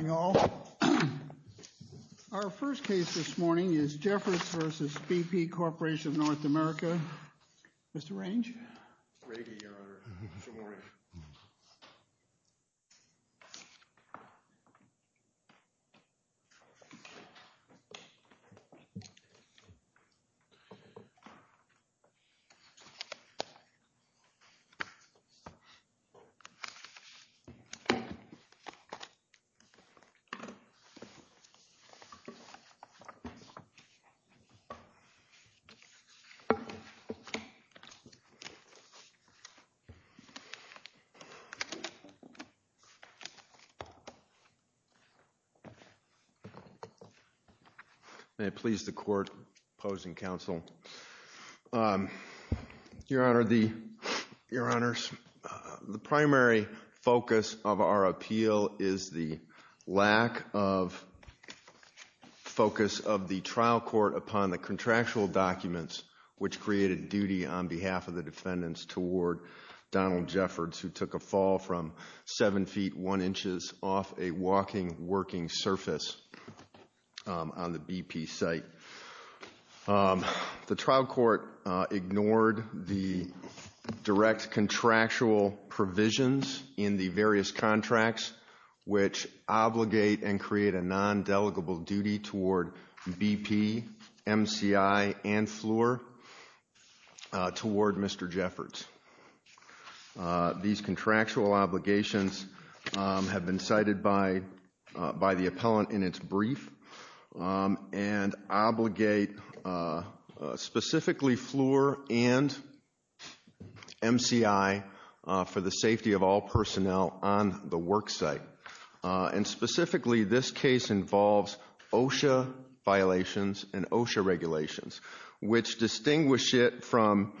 Our first case this morning is Jeffords v. BP Corporation North America. Mr. Range? Good morning. Jeffords v. BP Corporation North America May it please the court, opposing counsel. Your Honor, the primary focus of our appeal is the lack of focus of the trial court upon the contractual documents, which created duty on behalf of the defendants toward Donald Jeffords, who took a fall from 7 feet 1 inches off a walking, working surface on the BP site. The trial court ignored the direct contractual provisions in the various contracts, which obligate and create a non-delegable duty toward BP, MCI, and FLUR toward Mr. Jeffords. These contractual obligations have been cited by the appellant in its brief and obligate specifically FLUR and MCI for the safety of all personnel on the work site. And specifically, this case involves OSHA violations and OSHA regulations, which distinguish it from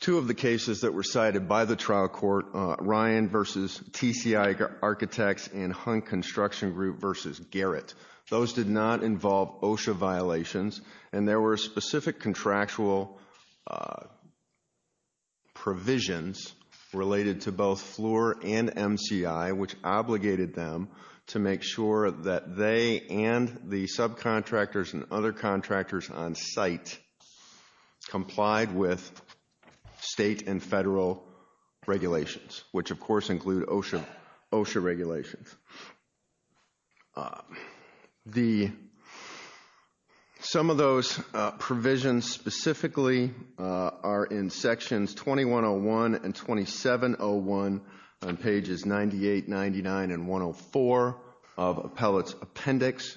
two of the cases that were cited by the trial court, Ryan v. TCI Architects and Hunt Construction Group v. Garrett. Those did not involve OSHA violations, and there were specific contractual provisions related to both FLUR and MCI, which obligated them to make sure that they and the subcontractors and other contractors on site complied with state and federal regulations, which of course include OSHA regulations. Some of those provisions specifically are in sections 2101 and 2701 on pages 98, 99, and 104 of appellant's appendix,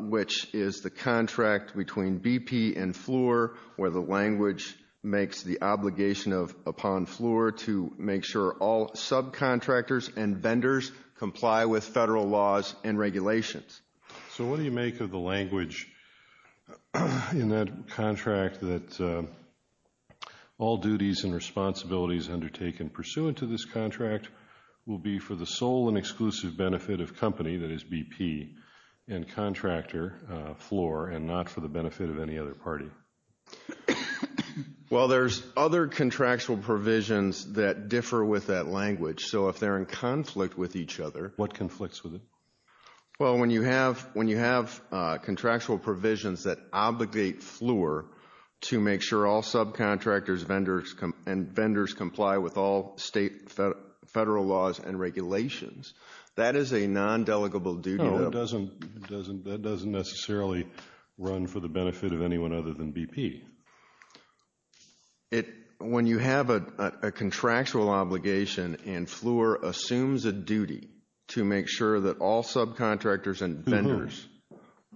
which is the contract between BP and FLUR, where the language makes the obligation upon FLUR to make sure all subcontractors and vendors comply with federal laws and regulations. So what do you make of the language in that contract that all duties and responsibilities undertaken pursuant to this contract will be for the sole and exclusive benefit of company, that is BP, and contractor, FLUR, and not for the benefit of any other party? Well, there's other contractual provisions that differ with that language. So if they're in conflict with each other What conflicts with it? Well, when you have contractual provisions that obligate FLUR to make sure all subcontractors and vendors comply with all state and federal laws and regulations, that is a non-delegable duty. No, that doesn't necessarily run for the benefit of anyone other than BP. When you have a contractual obligation and FLUR assumes a duty to make sure that all subcontractors and vendors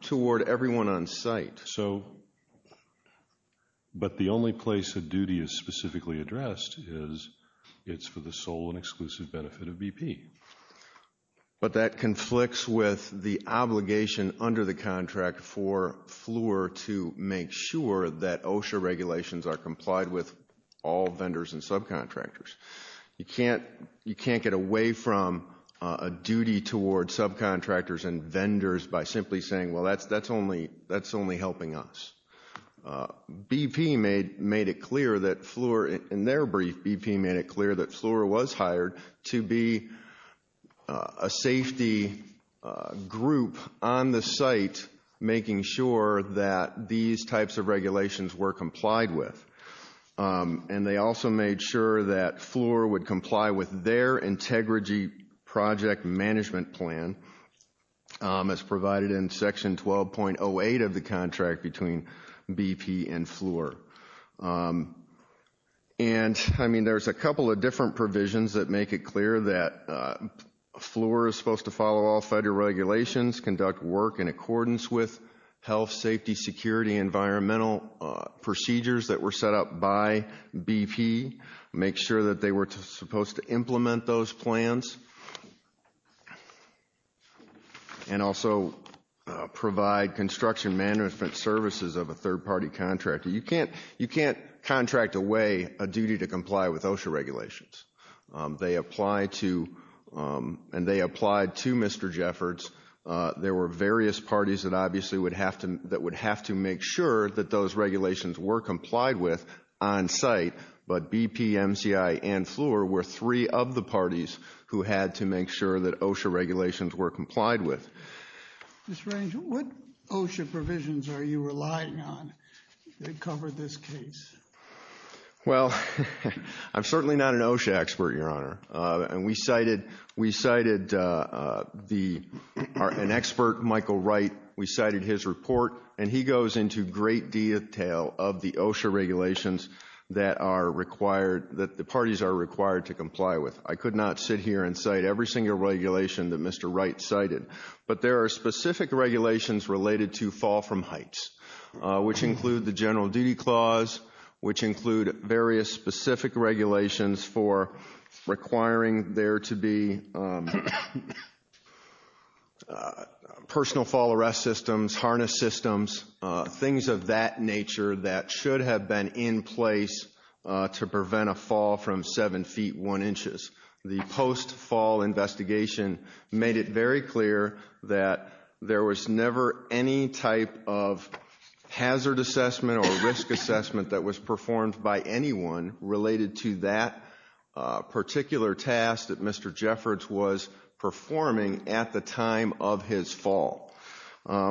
toward everyone on site. But the only place a duty is specifically addressed is it's for the sole and exclusive benefit of BP. But that conflicts with the obligation under the contract for FLUR to make sure that OSHA regulations are complied with all vendors and subcontractors. You can't get away from a duty toward subcontractors and vendors by simply saying, well, that's only helping us. BP made it clear that FLUR, in their brief, BP made it clear that FLUR was hired to be a safety group on the site making sure that these types of regulations were complied with. And they also made sure that FLUR would comply with their integrity project management plan as provided in section 12.08 of the contract between BP and FLUR. And, I mean, there's a couple of different provisions that make it clear that FLUR is supposed to follow all federal regulations, conduct work in accordance with health, safety, security, environmental procedures that were set up by BP, make sure that they were supposed to implement those plans. And also provide construction management services of a third-party contractor. You can't contract away a duty to comply with OSHA regulations. They apply to Mr. Jeffords. There were various parties that obviously would have to make sure that those regulations were complied with on site, but BP, MCI, and FLUR were three of the parties who had to make sure that OSHA regulations were complied with. Mr. Range, what OSHA provisions are you relying on to cover this case? Well, I'm certainly not an OSHA expert, Your Honor. And we cited an expert, Michael Wright. We cited his report. And he goes into great detail of the OSHA regulations that the parties are required to comply with. I could not sit here and cite every single regulation that Mr. Wright cited. But there are specific regulations related to fall from heights, which include the General Duty Clause, which include various specific regulations for requiring there to be personal fall arrest systems, harness systems, things of that nature that should have been in place to prevent a fall from 7 feet 1 inches. The post-fall investigation made it very clear that there was never any type of hazard assessment or risk assessment that was performed by anyone related to that particular task that Mr. Jeffords was performing at the time of his fall.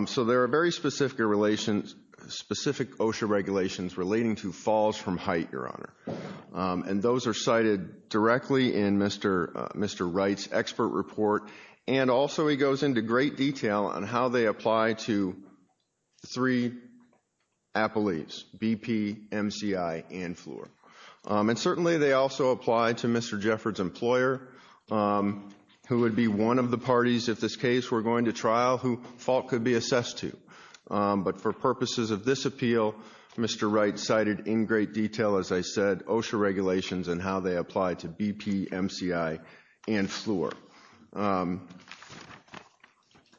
So there are very specific OSHA regulations relating to falls from height, Your Honor. And those are cited directly in Mr. Wright's expert report. And also he goes into great detail on how they apply to three appellees, BP, MCI, and Fleur. And certainly they also apply to Mr. Jeffords' employer, who would be one of the parties, if this case were going to trial, who fault could be assessed to. But for purposes of this appeal, Mr. Wright cited in great detail, as I said, OSHA regulations and how they apply to BP, MCI, and Fleur.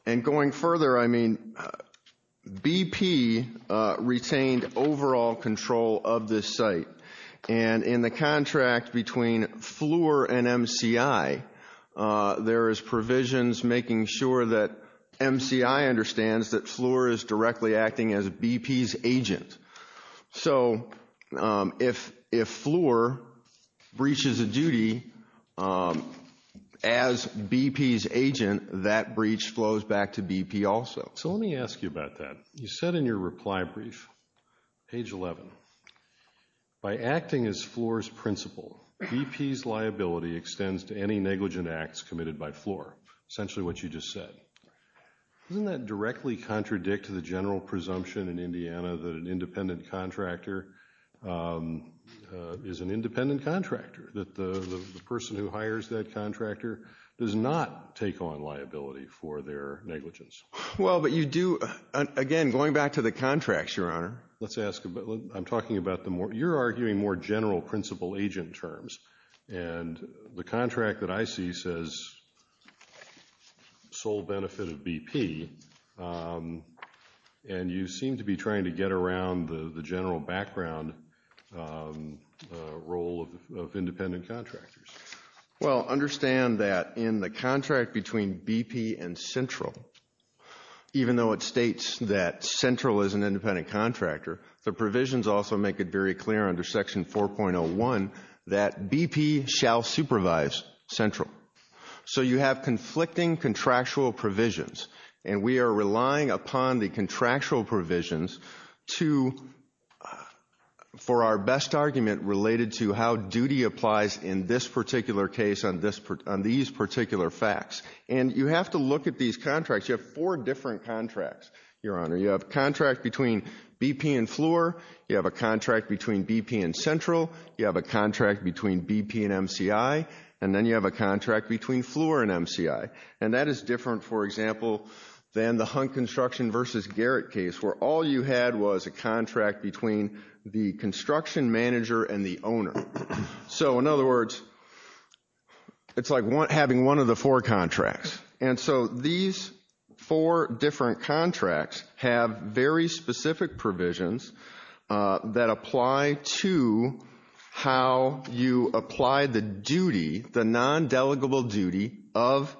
And going further, I mean, BP retained overall control of this site. And in the contract between Fleur and MCI, there is provisions making sure that MCI understands that Fleur is directly acting as BP's agent. So if Fleur breaches a duty as BP's agent, that breach flows back to BP also. So let me ask you about that. You said in your reply brief, page 11, by acting as Fleur's principal, BP's liability extends to any negligent acts committed by Fleur. Essentially what you just said. Doesn't that directly contradict the general presumption in Indiana that an independent contractor is an independent contractor? That the person who hires that contractor does not take on liability for their negligence? Well, but you do, again, going back to the contracts, Your Honor. Let's ask, I'm talking about the more, you're arguing more general principal-agent terms. And the contract that I see says sole benefit of BP. And you seem to be trying to get around the general background role of independent contractors. Well, understand that in the contract between BP and Central, even though it states that Central is an independent contractor, the provisions also make it very clear under Section 4.01 that BP shall supervise Central. So you have conflicting contractual provisions. And we are relying upon the contractual provisions to, for our best argument, related to how duty applies in this particular case on these particular facts. And you have to look at these contracts. You have four different contracts, Your Honor. You have a contract between BP and Fleur. You have a contract between BP and Central. You have a contract between BP and MCI. And then you have a contract between Fleur and MCI. And that is different, for example, than the Hunt Construction v. Garrett case, where all you had was a contract between the construction manager and the owner. So, in other words, it's like having one of the four contracts. And so these four different contracts have very specific provisions that apply to how you apply the duty, the non-delegable duty of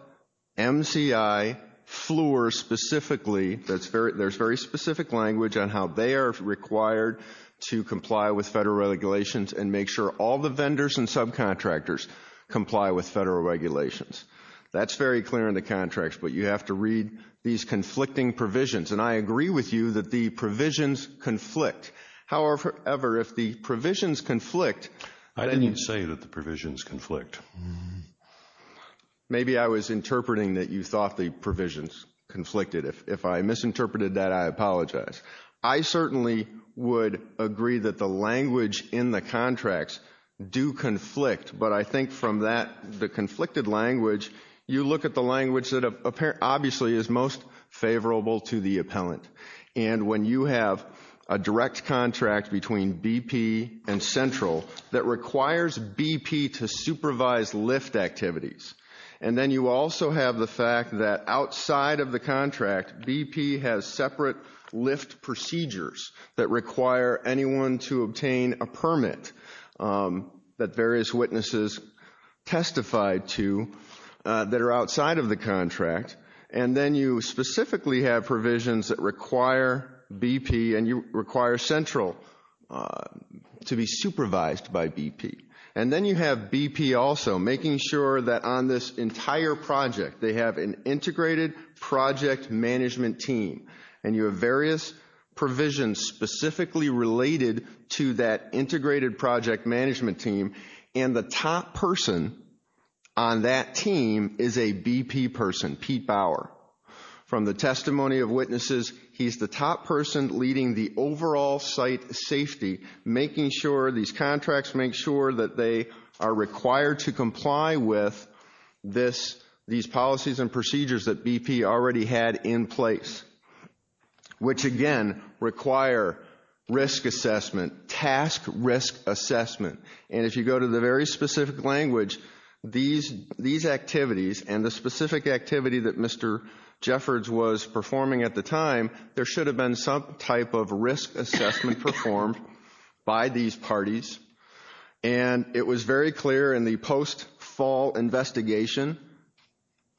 MCI, Fleur specifically. There's very specific language on how they are required to comply with federal regulations and make sure all the vendors and subcontractors comply with federal regulations. That's very clear in the contracts. But you have to read these conflicting provisions. And I agree with you that the provisions conflict. However, if the provisions conflict— I didn't say that the provisions conflict. Maybe I was interpreting that you thought the provisions conflicted. If I misinterpreted that, I apologize. I certainly would agree that the language in the contracts do conflict, but I think from the conflicted language, you look at the language that obviously is most favorable to the appellant. And when you have a direct contract between BP and Central that requires BP to supervise lift activities, and then you also have the fact that outside of the contract, BP has separate lift procedures that require anyone to obtain a permit that various witnesses testified to that are outside of the contract, and then you specifically have provisions that require BP and you require Central to be supervised by BP. And then you have BP also making sure that on this entire project, they have an integrated project management team, and you have various provisions specifically related to that integrated project management team, and the top person on that team is a BP person, Pete Bauer. From the testimony of witnesses, he's the top person leading the overall site safety, making sure these contracts make sure that they are required to comply with these policies and procedures that BP already had in place, which again require risk assessment, task risk assessment. And if you go to the very specific language, these activities and the specific activity that Mr. Jeffords was performing at the time, there should have been some type of risk assessment performed by these parties, and it was very clear in the post-fall investigation,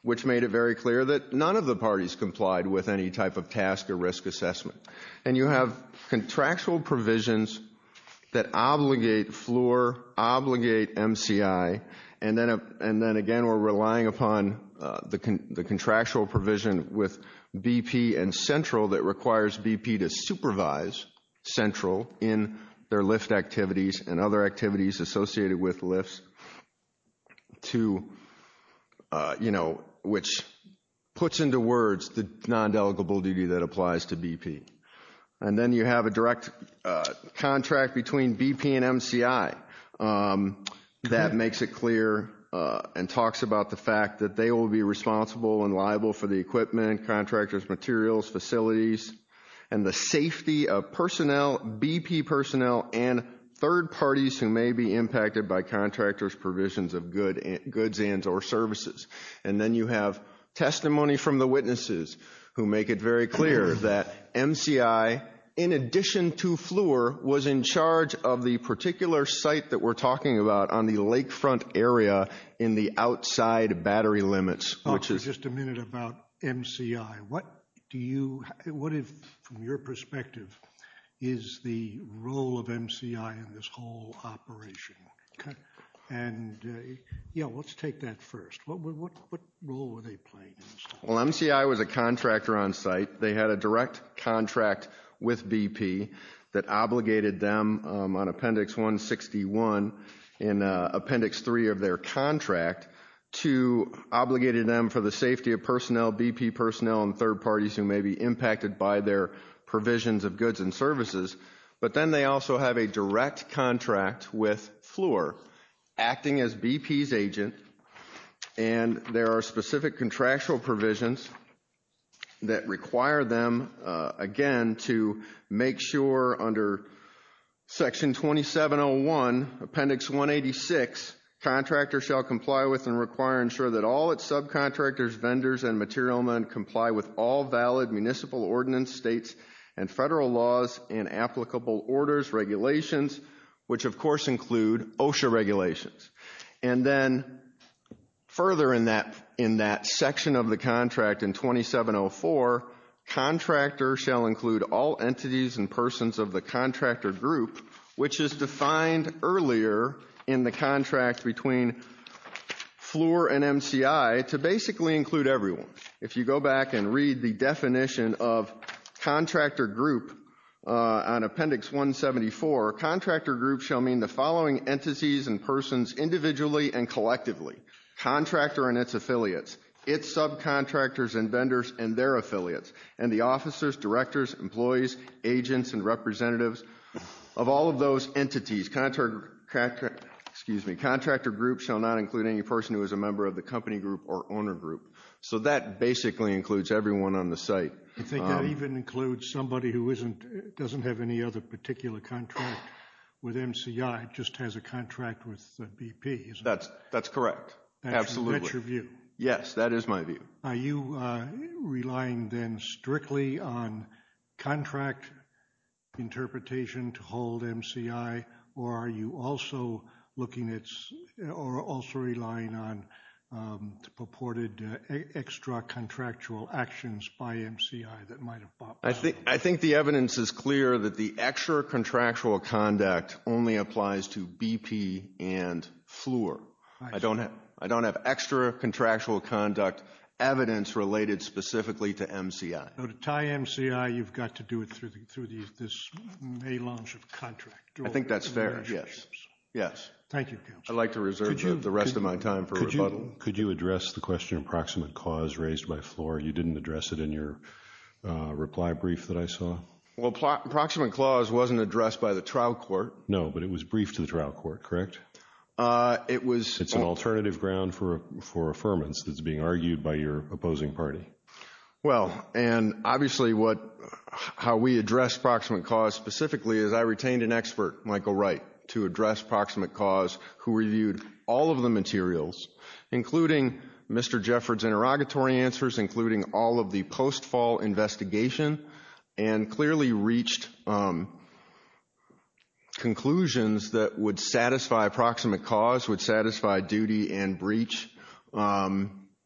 which made it very clear that none of the parties complied with any type of task or risk assessment. And you have contractual provisions that obligate FLOR, obligate MCI, and then again we're relying upon the contractual provision with BP and Central that requires BP to supervise Central in their lift activities and other activities associated with lifts to, you know, which puts into words the non-delegable duty that applies to BP. And then you have a direct contract between BP and MCI that makes it clear and talks about the fact that they will be responsible and liable for the equipment, contractors' materials, facilities, and the safety of personnel, BP personnel, and third parties who may be impacted by contractors' provisions of goods and or services. And then you have testimony from the witnesses who make it very clear that MCI, in addition to FLOR, was in charge of the particular site that we're talking about on the lakefront area in the outside battery limits, which is... I'll say just a minute about MCI. What do you, what, from your perspective, is the role of MCI in this whole operation? Okay. And, you know, let's take that first. What role were they playing in this? Well, MCI was a contractor on site. They had a direct contract with BP that obligated them on Appendix 161 in Appendix 3 of their contract to obligated them for the safety of personnel, BP personnel, and third parties who may be impacted by their provisions of goods and services. But then they also have a direct contract with FLOR acting as BP's agent, and there are specific contractual provisions that require them, again, to make sure under Section 2701, Appendix 186, contractors shall comply with and require and ensure that all its subcontractors, vendors, and material men comply with all valid municipal ordinance, states, and federal laws and applicable orders regulations, which of course include OSHA regulations. And then further in that section of the contract in 2704, contractor shall include all entities and persons of the contractor group, which is defined earlier in the contract between FLOR and MCI to basically include everyone. If you go back and read the definition of contractor group on Appendix 174, contractor group shall mean the following entities and persons individually and collectively, contractor and its affiliates, its subcontractors and vendors and their affiliates, and the officers, directors, employees, agents, and representatives of all of those entities. Excuse me. Contractor group shall not include any person who is a member of the company group or owner group. So that basically includes everyone on the site. I think that even includes somebody who doesn't have any other particular contract with MCI, just has a contract with BP, isn't it? That's correct. Absolutely. That's your view? Yes, that is my view. Are you relying then strictly on contract interpretation to hold MCI, or are you also relying on purported extra contractual actions by MCI that might have bought by? I think the evidence is clear that the extra contractual conduct only applies to BP and FLOR. I don't have extra contractual conduct evidence related specifically to MCI. To tie MCI, you've got to do it through this melange of contract. I think that's fair, yes. Thank you, Counselor. I'd like to reserve the rest of my time for rebuttal. Could you address the question of proximate cause raised by FLOR? You didn't address it in your reply brief that I saw. Well, proximate clause wasn't addressed by the trial court. No, but it was briefed to the trial court, correct? It's an alternative ground for affirmance that's being argued by your opposing party. Well, and obviously how we address proximate cause specifically is I retained an expert, Michael Wright, to address proximate cause who reviewed all of the materials, including Mr. Jeffords' interrogatory answers, including all of the post-fall investigation, and clearly reached conclusions that would satisfy proximate cause, would satisfy duty and breach,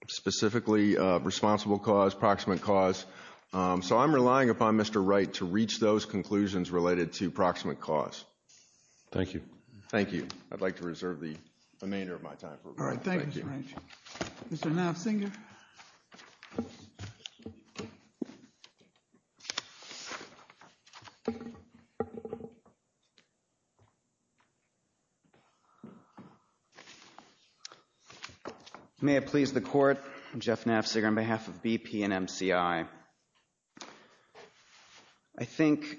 specifically responsible cause, proximate cause. So I'm relying upon Mr. Wright to reach those conclusions related to proximate cause. Thank you. Thank you. I'd like to reserve the remainder of my time for rebuttal. All right. Thank you, Mr. Wright. Mr. Nafziger. May it please the Court, I'm Jeff Nafziger on behalf of BP and MCI. I think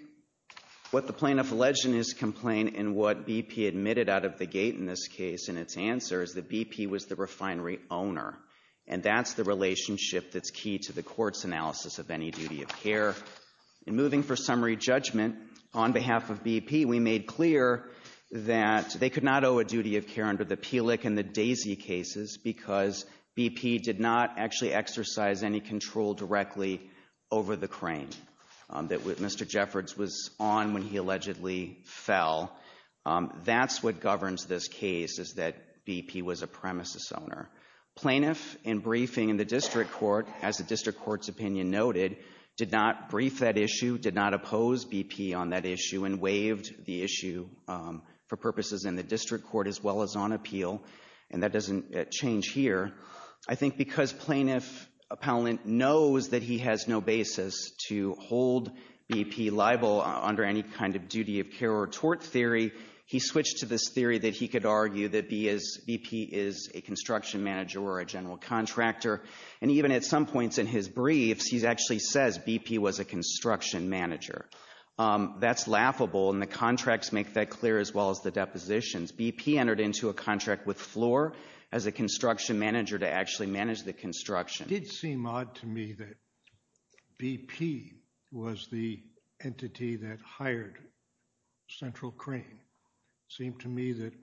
what the plaintiff alleged in his complaint and what BP admitted out of the gate in this case in its answer is that BP was the refinery owner, and that's the relationship that's key to the court's analysis of any duty of care. In moving for summary judgment on behalf of BP, we made clear that they could not owe a duty of care under the Peelick and the Daisy cases because BP did not actually exercise any control directly over the crane that Mr. Jeffords was on when he allegedly fell. That's what governs this case is that BP was a premises owner. Plaintiff in briefing in the district court, as the district court's opinion noted, did not brief that issue, did not oppose BP on that issue, and waived the issue for purposes in the district court as well as on appeal, and that doesn't change here. I think because plaintiff appellant knows that he has no basis to hold BP liable under any kind of duty of care or tort theory, he switched to this theory that he could argue that BP is a construction manager or a general contractor, and even at some points in his briefs he actually says BP was a construction manager. That's laughable, and the contracts make that clear as well as the depositions. BP entered into a contract with Floor as a construction manager to actually manage the construction. It did seem odd to me that BP was the entity that hired Central Crane. It seemed to me that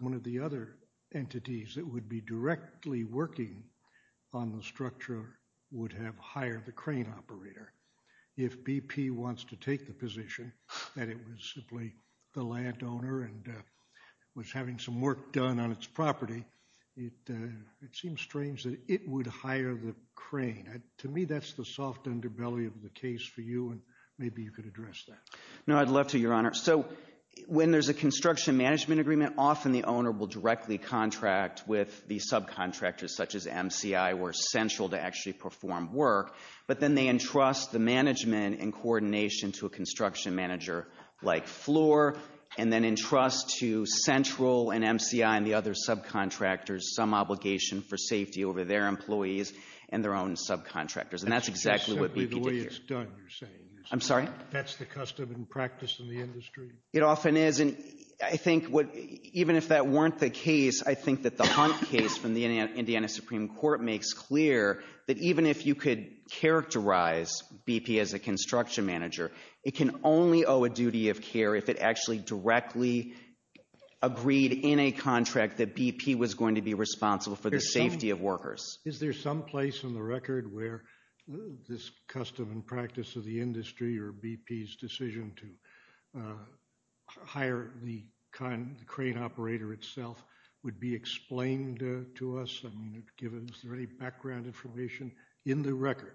one of the other entities that would be directly working on the structure would have hired the crane operator. If BP wants to take the position that it was simply the landowner and was having some work done on its property, it seems strange that it would hire the crane. To me that's the soft underbelly of the case for you, and maybe you could address that. No, I'd love to, Your Honor. So when there's a construction management agreement, often the owner will directly contract with the subcontractors such as MCI or Central to actually perform work, but then they entrust the management and coordination to a construction manager like Floor, and then entrust to Central and MCI and the other subcontractors some obligation for safety over their employees and their own subcontractors, and that's exactly what BP did here. That's simply the way it's done, you're saying. I'm sorry? That's the custom and practice in the industry. It often is, and I think even if that weren't the case, I think that the Hunt case from the Indiana Supreme Court makes clear that even if you could characterize BP as a construction manager, it can only owe a duty of care if it actually directly agreed in a contract that BP was going to be responsible for the safety of workers. Is there some place in the record where this custom and practice of the industry or BP's decision to hire the crane operator itself would be explained to us? I mean, is there any background information in the record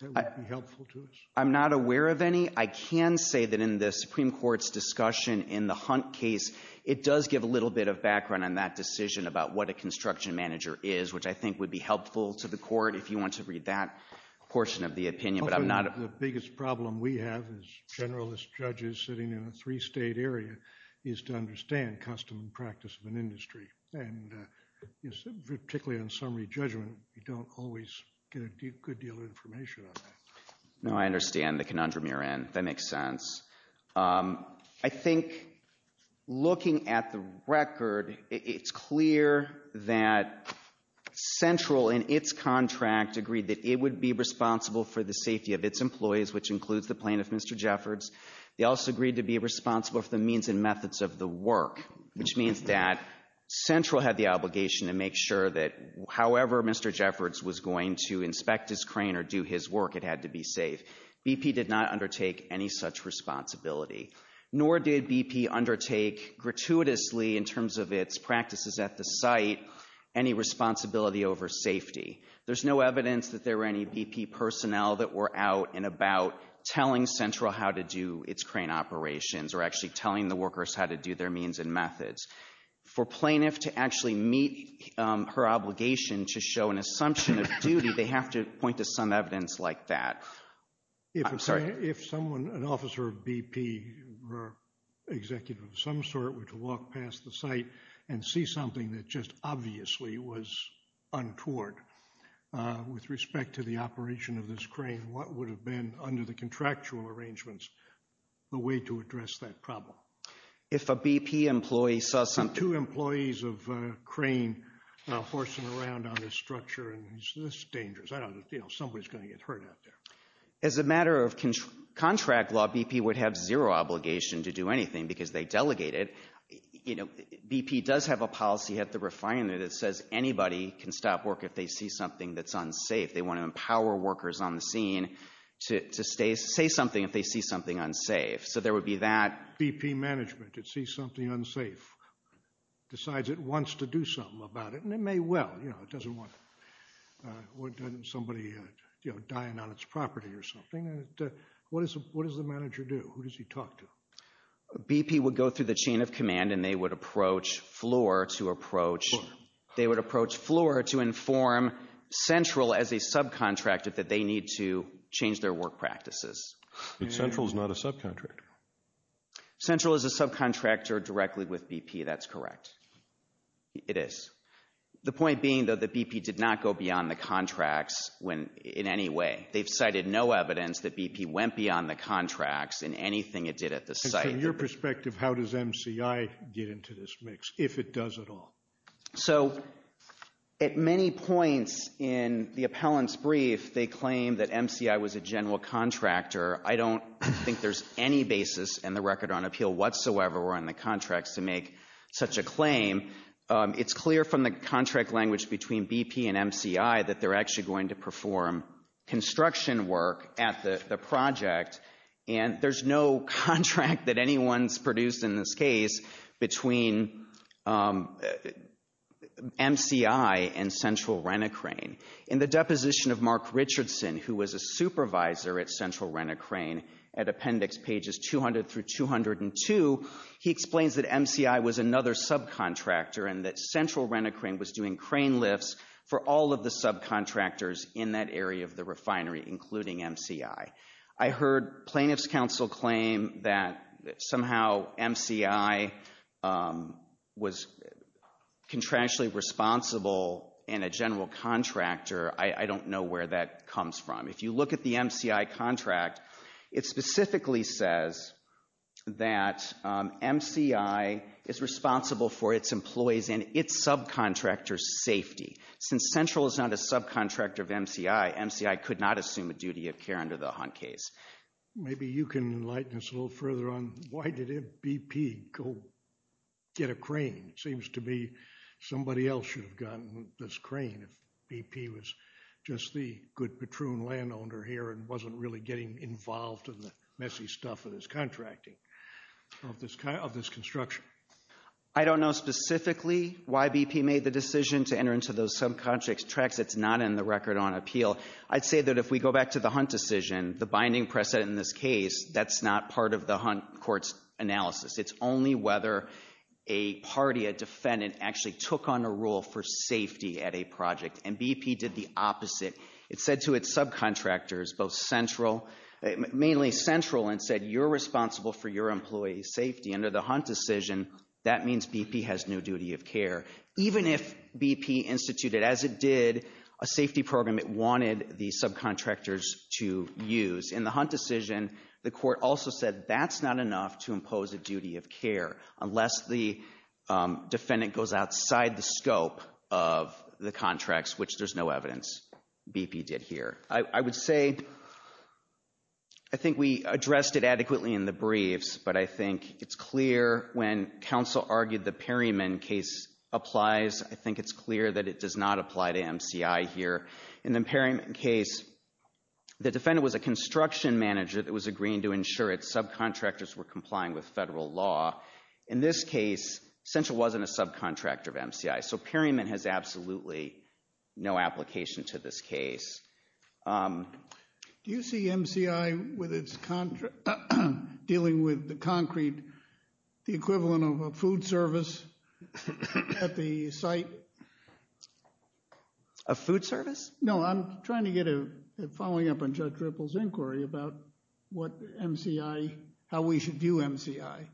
that would be helpful to us? I'm not aware of any. I can say that in the Supreme Court's discussion in the Hunt case, it does give a little bit of background on that decision about what a construction manager is, which I think would be helpful to the court if you want to read that portion of the opinion, but I'm not— The biggest problem we have as generalist judges sitting in a three-state area is to understand custom and practice of an industry, and particularly on summary judgment, you don't always get a good deal of information on that. No, I understand the conundrum you're in. That makes sense. I think looking at the record, it's clear that Central, in its contract, agreed that it would be responsible for the safety of its employees, which includes the plaintiff, Mr. Jeffords. They also agreed to be responsible for the means and methods of the work, which means that Central had the obligation to make sure that however Mr. Jeffords was going to inspect his crane or do his work, it had to be safe. BP did not undertake any such responsibility, nor did BP undertake gratuitously, in terms of its practices at the site, any responsibility over safety. There's no evidence that there were any BP personnel that were out and about telling Central how to do its crane operations or actually telling the workers how to do their means and methods. For plaintiff to actually meet her obligation to show an assumption of duty, they have to point to some evidence like that. I'm sorry. If someone, an officer of BP or executive of some sort, were to walk past the site and see something that just obviously was untoward, with respect to the operation of this crane, what would have been, under the contractual arrangements, the way to address that problem? If a BP employee saw something... Two employees of a crane horsing around on this structure, this is dangerous. Somebody's going to get hurt out there. As a matter of contract law, BP would have zero obligation to do anything because they delegate it. BP does have a policy at the refinery that says anybody can stop work if they see something that's unsafe. They want to empower workers on the scene to say something if they see something unsafe. So there would be that. BP management that sees something unsafe, decides it wants to do something about it, and it may well. It doesn't want somebody dying on its property or something. What does the manager do? Who does he talk to? BP would go through the chain of command, and they would approach FLOR to inform Central as a subcontractor that they need to change their work practices. But Central is not a subcontractor. Central is a subcontractor directly with BP. That's correct. It is. The point being, though, that BP did not go beyond the contracts in any way. They've cited no evidence that BP went beyond the contracts in anything it did at the site. And from your perspective, how does MCI get into this mix, if it does at all? So at many points in the appellant's brief, if they claim that MCI was a general contractor, I don't think there's any basis in the Record on Appeal whatsoever or in the contracts to make such a claim. It's clear from the contract language between BP and MCI that they're actually going to perform construction work at the project, and there's no contract that anyone's produced in this case between MCI and Central Renecraine. In the deposition of Mark Richardson, who was a supervisor at Central Renecraine, at Appendix Pages 200 through 202, he explains that MCI was another subcontractor and that Central Renecraine was doing crane lifts for all of the subcontractors in that area of the refinery, including MCI. I heard Plaintiff's Counsel claim that somehow MCI was contractually responsible in a general contractor. I don't know where that comes from. If you look at the MCI contract, it specifically says that MCI is responsible for its employees and its subcontractor's safety. Since Central is not a subcontractor of MCI, MCI could not assume a duty of care under the Hunt case. Maybe you can enlighten us a little further on why did BP go get a crane? It seems to be somebody else should have gotten this crane if BP was just the good Patroon landowner here and wasn't really getting involved in the messy stuff of this contracting, of this construction. I don't know specifically why BP made the decision to enter into those subcontractor tracks. It's not in the record on appeal. I'd say that if we go back to the Hunt decision, the binding precedent in this case, that's not part of the Hunt court's analysis. It's only whether a party, a defendant, actually took on a role for safety at a project, and BP did the opposite. It said to its subcontractors, both Central, mainly Central, and said you're responsible for your employees' safety. Under the Hunt decision, that means BP has no duty of care. Even if BP instituted, as it did, a safety program it wanted the subcontractors to use. In the Hunt decision, the court also said that's not enough to impose a duty of care unless the defendant goes outside the scope of the contracts, which there's no evidence BP did here. I would say I think we addressed it adequately in the briefs, but I think it's clear when counsel argued the Perryman case applies, I think it's clear that it does not apply to MCI here. In the Perryman case, the defendant was a construction manager that was agreeing to ensure its subcontractors were complying with federal law. In this case, Central wasn't a subcontractor of MCI, so Perryman has absolutely no application to this case. Do you see MCI dealing with the concrete, the equivalent of a food service at the site? A food service? No, I'm trying to get a following up on Judge Ripple's inquiry about what MCI, how we should view MCI.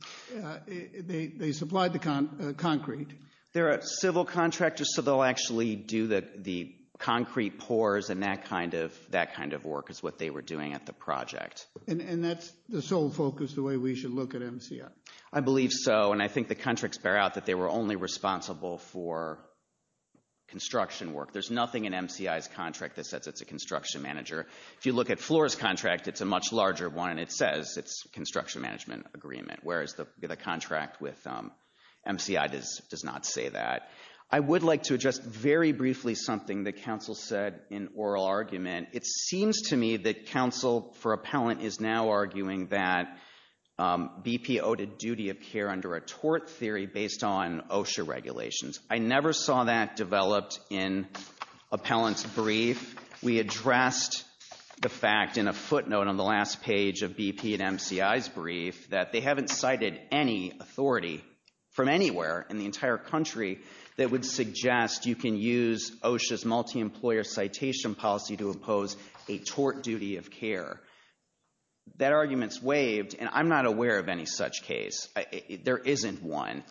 They supplied the concrete. They're a civil contractor, so they'll actually do the concrete pours and that kind of work is what they were doing at the project. And that's the sole focus, the way we should look at MCI? I believe so, and I think the contracts bear out that they were only responsible for construction work. There's nothing in MCI's contract that says it's a construction manager. If you look at Floor's contract, it's a much larger one, and it says it's a construction management agreement, whereas the contract with MCI does not say that. I would like to address very briefly something that counsel said in oral argument. It seems to me that counsel for appellant is now arguing that BP owed a duty of care under a tort theory based on OSHA regulations. I never saw that developed in appellant's brief. We addressed the fact in a footnote on the last page of BP and MCI's brief that they haven't cited any authority from anywhere in the entire country that would suggest you can use OSHA's multi-employer citation policy to impose a tort duty of care. That argument's waived, and I'm not aware of any such case. There isn't one.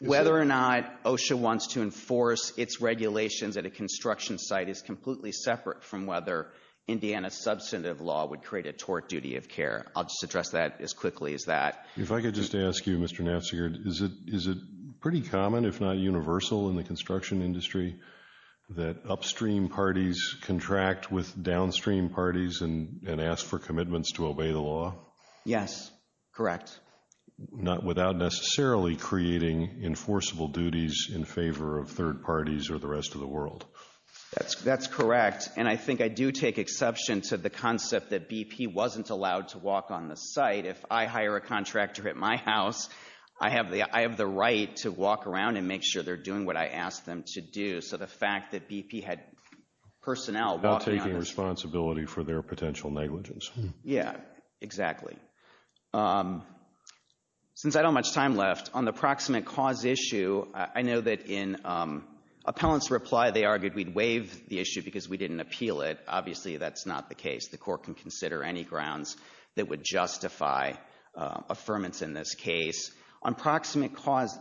Whether or not OSHA wants to enforce its regulations at a construction site is completely separate from whether Indiana's substantive law would create a tort duty of care. I'll just address that as quickly as that. If I could just ask you, Mr. Nafziger, is it pretty common, if not universal, in the construction industry that upstream parties contract with downstream parties and ask for commitments to obey the law? Yes, correct. Without necessarily creating enforceable duties in favor of third parties or the rest of the world. That's correct, and I think I do take exception to the concept that BP wasn't allowed to walk on the site. If I hire a contractor at my house, I have the right to walk around and make sure they're doing what I ask them to do. So the fact that BP had personnel walking on the site... Not taking responsibility for their potential negligence. Yeah, exactly. Since I don't have much time left, on the proximate cause issue, I know that in appellant's reply, they argued we'd waive the issue because we didn't appeal it. Obviously, that's not the case. The court can consider any grounds that would justify affirmance in this case. On proximate cause,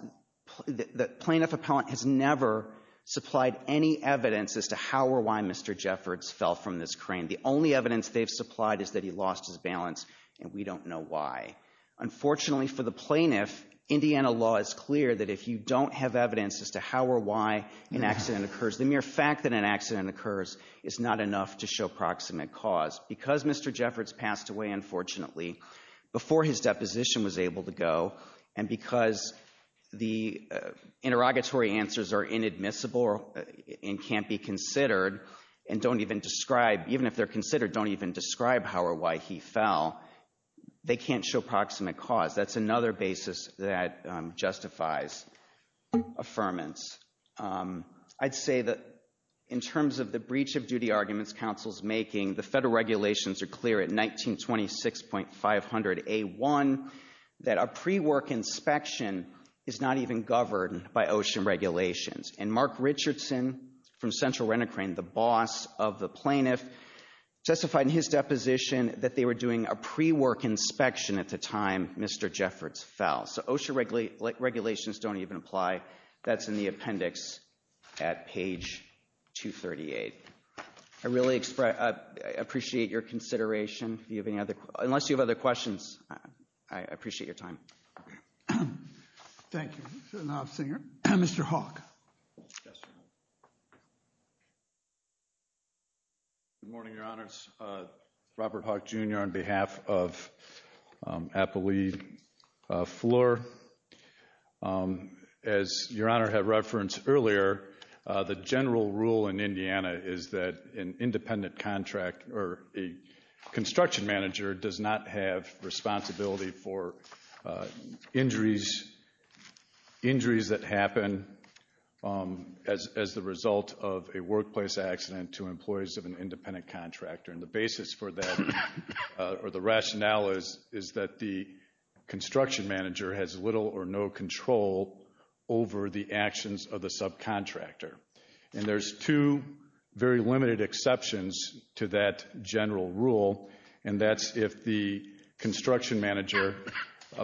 the plaintiff appellant has never supplied any evidence as to how or why Mr. Jeffords fell from this crane. The only evidence they've supplied is that he lost his balance, and we don't know why. Unfortunately for the plaintiff, Indiana law is clear that if you don't have evidence as to how or why an accident occurs, the mere fact that an accident occurs is not enough to show proximate cause. Because Mr. Jeffords passed away, unfortunately, before his deposition was able to go, and because the interrogatory answers are inadmissible and can't be considered, and don't even describe... how or why he fell, they can't show proximate cause. That's another basis that justifies affirmance. I'd say that in terms of the breach of duty arguments counsel's making, the federal regulations are clear at 1926.500A1 that a pre-work inspection is not even governed by OSHA regulations. And Mark Richardson, from Central Rent-A-Crane, the boss of the plaintiff, testified in his deposition that they were doing a pre-work inspection at the time Mr. Jeffords fell. So OSHA regulations don't even apply. That's in the appendix at page 238. I really appreciate your consideration. Unless you have other questions, I appreciate your time. Thank you. Mr. Hawke. Yes, sir. Good morning, Your Honors. Robert Hawke, Jr. on behalf of Appali Fleur. As Your Honor had referenced earlier, the general rule in Indiana is that an independent contract or a construction manager does not have responsibility for injuries that happen as the result of a workplace accident to employees of an independent contractor. And the basis for that or the rationale is that the construction manager has little or no control over the actions of the subcontractor. And there's two very limited exceptions to that general rule, and that's if the construction manager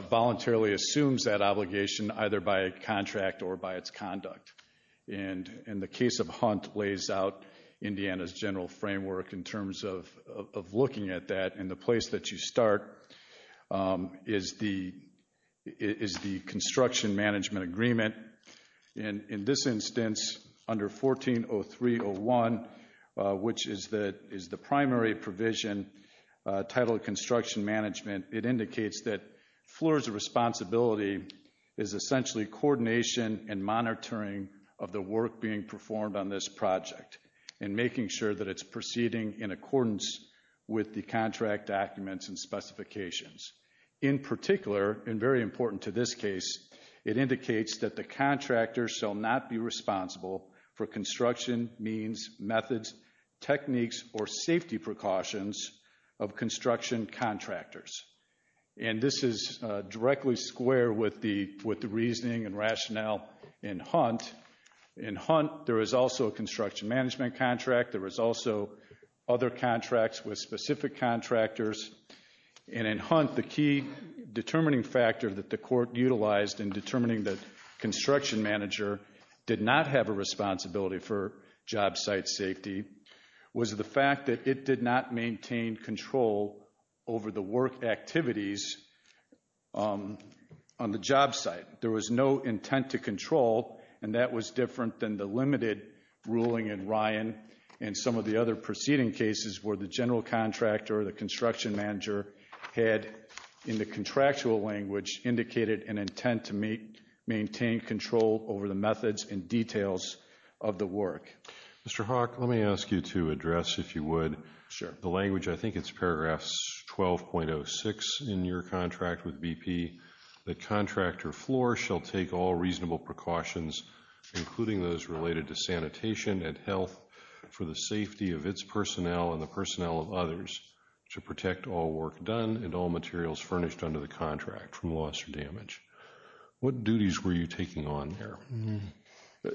voluntarily assumes that obligation either by contract or by its conduct. And the case of Hunt lays out Indiana's general framework in terms of looking at that. And the place that you start is the construction management agreement. And in this instance, under 14-03-01, which is the primary provision titled construction management, it indicates that Fleur's responsibility is essentially coordination and monitoring of the work being performed on this project and making sure that it's proceeding in accordance with the contract documents and specifications. In particular, and very important to this case, it indicates that the contractor shall not be responsible for construction means, methods, techniques, or safety precautions of construction contractors. And this is directly square with the reasoning and rationale in Hunt. In Hunt, there is also a construction management contract. There is also other contracts with specific contractors. And in Hunt, the key determining factor that the court utilized in determining that construction manager did not have a responsibility for job site safety was the fact that it did not maintain control over the work activities on the job site. There was no intent to control, and that was different than the limited ruling in Ryan and some of the other preceding cases where the general contractor or the construction manager had, in the contractual language, indicated an intent to maintain control over the methods and details of the work. Mr. Hawk, let me ask you to address, if you would, the language. I think it's paragraphs 12.06 in your contract with BP. The contractor floor shall take all reasonable precautions, including those related to sanitation and health, for the safety of its personnel and the personnel of others to protect all work done and all materials furnished under the contract from loss or damage. What duties were you taking on there?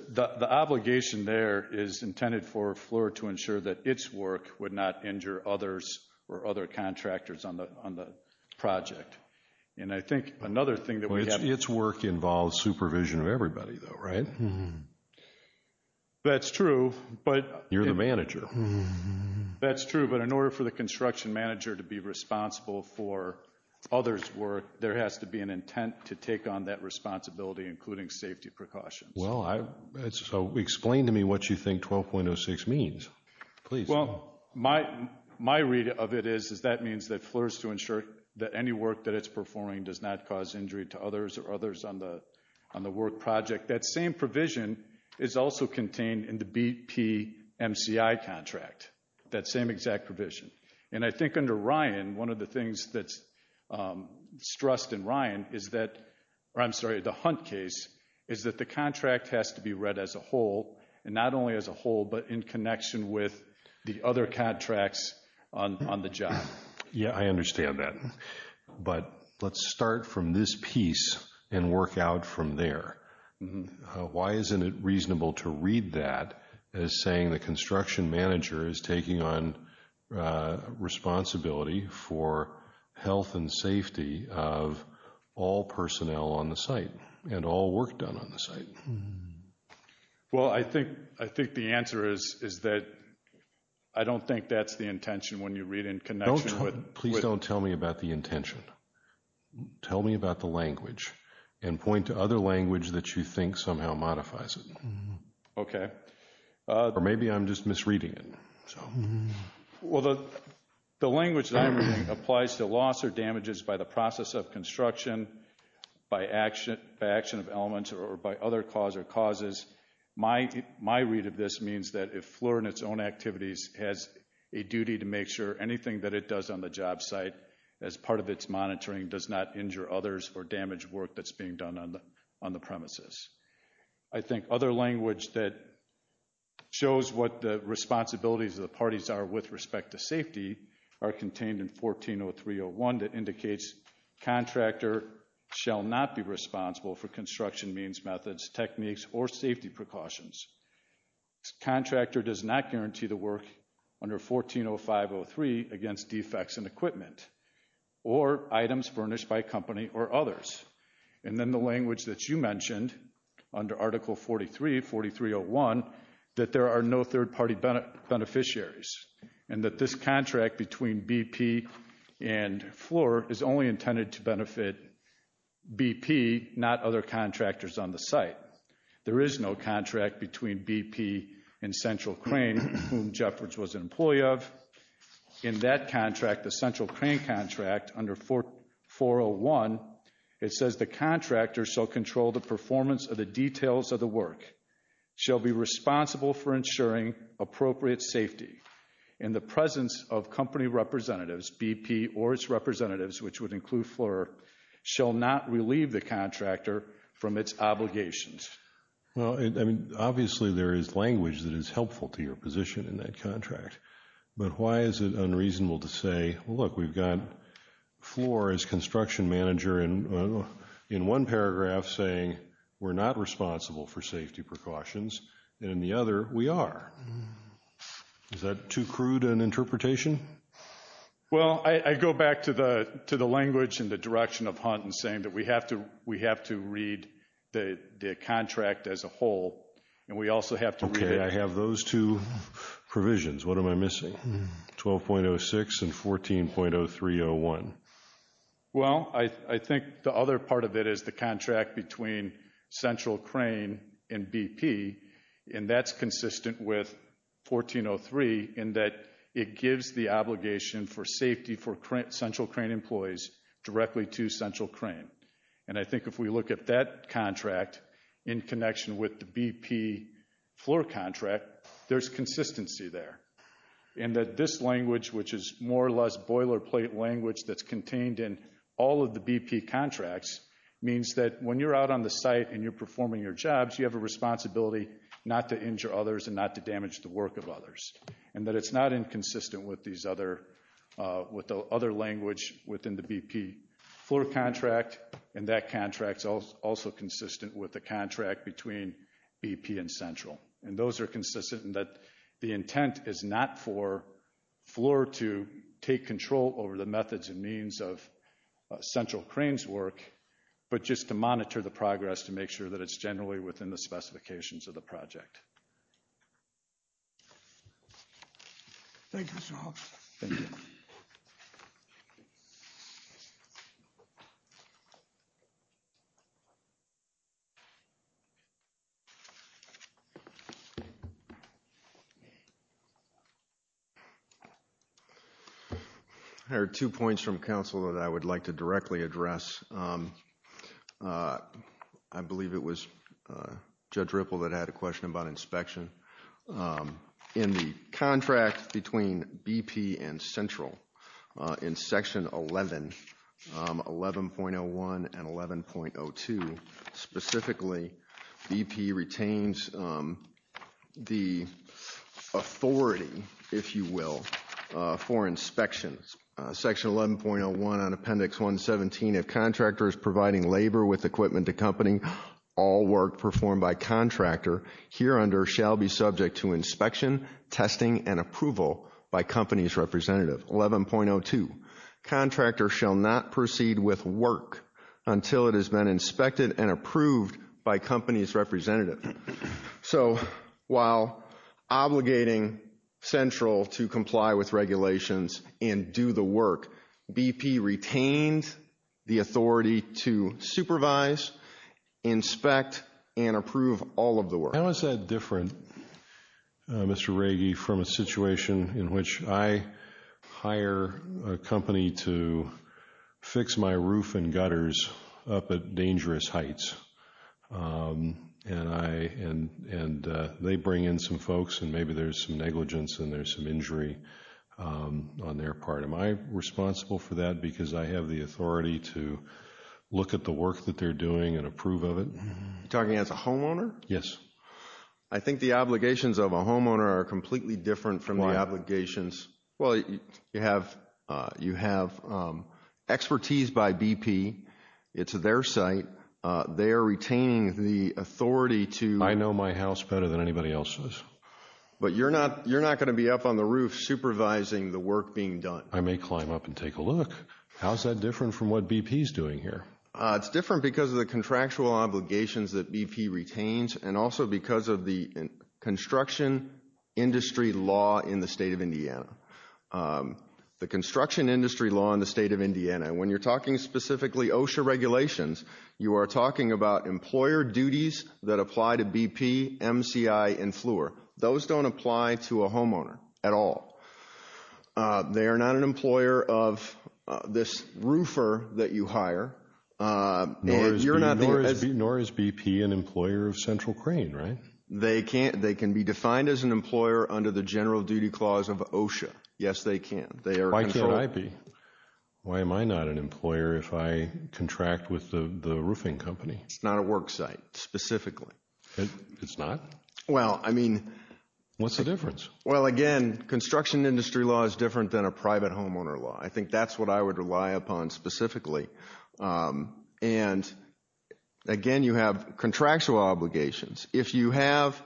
The obligation there is intended for a floor to ensure that its work would not injure others or other contractors on the project. And I think another thing that we have... Its work involves supervision of everybody, though, right? That's true, but... You're the manager. That's true, but in order for the construction manager to be responsible for others' work, there has to be an intent to take on that responsibility, including safety precautions. So explain to me what you think 12.06 means, please. Well, my read of it is that that means that floors to ensure that any work that it's performing does not cause injury to others or others on the work project. That same provision is also contained in the BP MCI contract, that same exact provision. And I think under Ryan, one of the things that's stressed in Ryan is that... I'm sorry, the Hunt case is that the contract has to be read as a whole, and not only as a whole, but in connection with the other contracts on the job. Yeah, I understand that. But let's start from this piece and work out from there. Why isn't it reasonable to read that as saying the construction manager is taking on responsibility for health and safety of all personnel on the site and all work done on the site? Well, I think the answer is that I don't think that's the intention when you read in connection with... Please don't tell me about the intention. Tell me about the language and point to other language that you think somehow modifies it. Okay. Or maybe I'm just misreading it. Well, the language that I'm reading applies to loss or damages by the process of construction, by action of elements, or by other cause or causes. My read of this means that if FLIR in its own activities has a duty to make sure anything that it does on the job site as part of its monitoring does not injure others or damage work that's being done on the premises. I think other language that shows what the responsibilities of the parties are with respect to safety are contained in 14-0301 that indicates contractor shall not be responsible for construction means, methods, techniques, or safety precautions. Contractor does not guarantee the work under 14-0503 against defects in equipment or items furnished by company or others. And then the language that you mentioned under Article 43-4301 that there are no third-party beneficiaries and that this contract between BP and FLIR is only intended to benefit BP, not other contractors on the site. There is no contract between BP and Central Crane, whom Jeffords was an employee of. In that contract, the Central Crane contract, under 14-401, it says the contractor shall control the performance of the details of the work, shall be responsible for ensuring appropriate safety in the presence of company representatives, BP, or its representatives, which would include FLIR, shall not relieve the contractor from its obligations. Well, I mean, obviously there is language that is helpful to your position in that contract. But why is it unreasonable to say, look, we've got FLIR as construction manager in one paragraph saying we're not responsible for safety precautions and in the other we are? Is that too crude an interpretation? Well, I go back to the language and the direction of Hunt in saying that we have to read the contract as a whole and we also have to read it. Okay, I have those two provisions. What am I missing? 12.06 and 14.0301. Well, I think the other part of it is the contract between Central Crane and BP, and that's consistent with 14-03 in that it gives the obligation for safety for Central Crane employees directly to Central Crane. And I think if we look at that contract in connection with the BP FLIR contract, there's consistency there. And that this language, which is more or less boilerplate language that's contained in all of the BP contracts, means that when you're out on the site and you're performing your jobs, you have a responsibility not to injure others and not to damage the work of others. And that it's not inconsistent with the other language within the BP FLIR contract, and that contract's also consistent with the contract between BP and Central. And those are consistent in that the intent is not for FLIR to take control over the methods and means of Central Crane's work, but just to monitor the progress to make sure that it's generally within the specifications of the project. Thank you, Mr. Hoffs. Thank you. I heard two points from counsel that I would like to directly address. I believe it was Judge Ripple that had a question about inspection. In the contract between BP and Central, in section 11, 11.01 and 11.02, specifically, BP retains the authority, if you will, for inspections. Section 11.01 on Appendix 117, if contractor is providing labor with equipment to company, all work performed by contractor here under shall be subject to inspection, testing, and approval by company's representative. 11.02, contractor shall not proceed with work until it has been inspected and approved by company's representative. So, while obligating Central to comply with regulations and do the work, BP retains the authority to supervise, inspect, and approve all of the work. How is that different, Mr. Ragey, from a situation in which I hire a company to fix my roof and gutters up at dangerous heights, and they bring in some folks and maybe there's some negligence and there's some injury on their part? Am I responsible for that because I have the authority to look at the work that they're doing and approve of it? You're talking as a homeowner? Yes. I think the obligations of a homeowner are completely different from the obligations... Why? Well, you have expertise by BP. It's their site. They are retaining the authority to... I know my house better than anybody else's. But you're not going to be up on the roof supervising the work being done. I may climb up and take a look. How is that different from what BP is doing here? It's different because of the contractual obligations that BP retains, and also because of the construction industry law in the state of Indiana. The construction industry law in the state of Indiana, when you're talking specifically OSHA regulations, you are talking about employer duties that apply to BP, MCI, and FLUR. Those don't apply to a homeowner at all. They are not an employer of this roofer that you hire. Nor is BP an employer of Central Crane, right? They can be defined as an employer under the General Duty Clause of OSHA. Yes, they can. Why can't I be? Why am I not an employer if I contract with the roofing company? It's not a work site, specifically. It's not? Well, I mean... What's the difference? Well, again, construction industry law is different than a private homeowner law. I think that's what I would rely upon specifically. And, again, you have contractual obligations. If you have...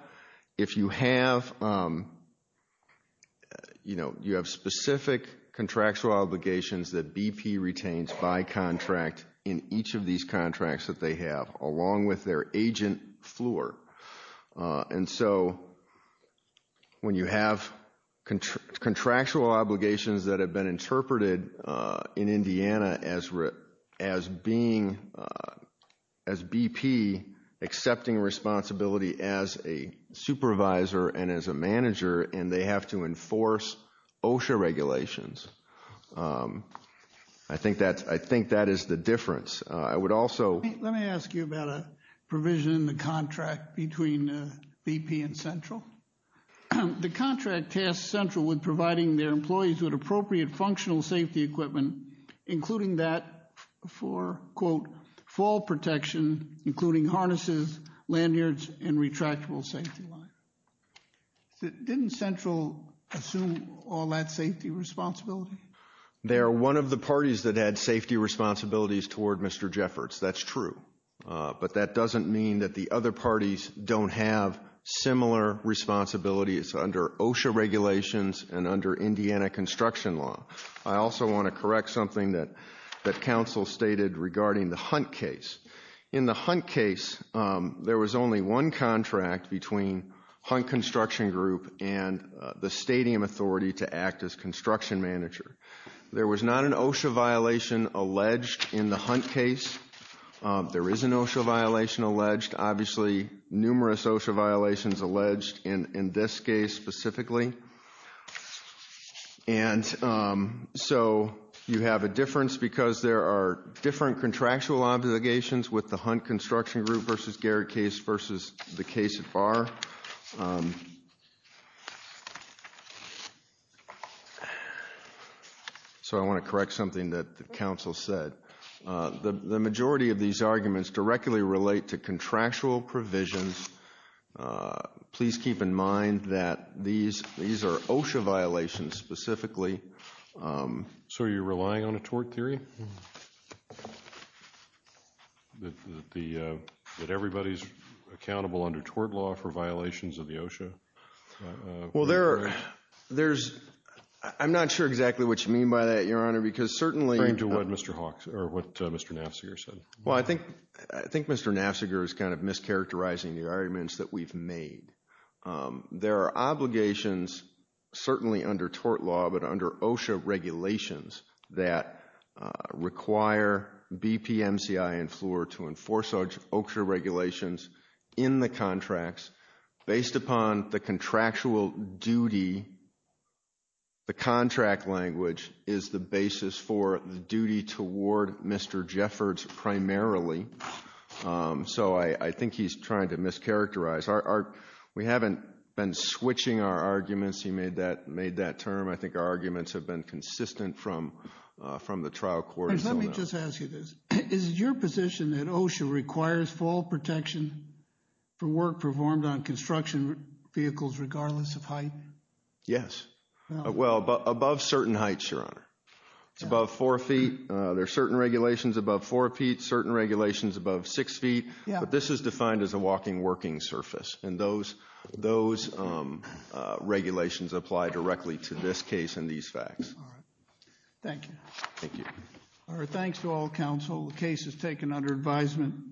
You know, you have specific contractual obligations that BP retains by contract in each of these contracts that they have along with their agent, FLUR. And so when you have contractual obligations that have been interpreted in Indiana as being... as BP accepting responsibility as a supervisor and as a manager and they have to enforce OSHA regulations, I think that is the difference. I would also... Let me ask you about a provision in the contract between BP and Central. The contract tasks Central with providing their employees with appropriate functional safety equipment, including that for, quote, fall protection, including harnesses, lanyards, and retractable safety lines. Didn't Central assume all that safety responsibility? They are one of the parties that had safety responsibilities toward Mr. Jefferts. That's true. But that doesn't mean that the other parties don't have similar responsibilities under OSHA regulations and under Indiana construction law. I also want to correct something that counsel stated regarding the Hunt case. In the Hunt case, there was only one contract between Hunt Construction Group and the stadium authority to act as construction manager. There was not an OSHA violation alleged in the Hunt case. There is an OSHA violation alleged. Obviously, numerous OSHA violations alleged in this case specifically. And so you have a difference because there are different contractual obligations with the Hunt Construction Group versus Garrett case versus the case at Barr. So I want to correct something that the counsel said. The majority of these arguments directly relate to contractual provisions. Please keep in mind that these are OSHA violations specifically. So you're relying on a tort theory? That everybody's accountable under tort law for violations of the OSHA? Well, there's... I'm not sure exactly what you mean by that, Your Honor, because certainly... According to what Mr. Hawks, or what Mr. Nafziger said. Well, I think Mr. Nafziger is kind of mischaracterizing the arguments that we've made. There are obligations certainly under tort law, but under OSHA regulations that require BPMCI and FLOR to enforce OSHA regulations in the contracts based upon the contractual duty. The contract language is the basis for the duty toward Mr. Jeffords primarily. So I think he's trying to mischaracterize. We haven't been switching our arguments. He made that term. I think our arguments have been consistent from the trial court. Let me just ask you this. Is it your position that OSHA requires fall protection for work performed on construction vehicles regardless of height? Yes. Well, above certain heights, Your Honor. It's above four feet. There are certain regulations above four feet, certain regulations above six feet, but this is defined as a walking-working surface, and those regulations apply directly to this case and these facts. All right. Thank you. Thank you. All right, thanks to all counsel. The case is taken under advisement.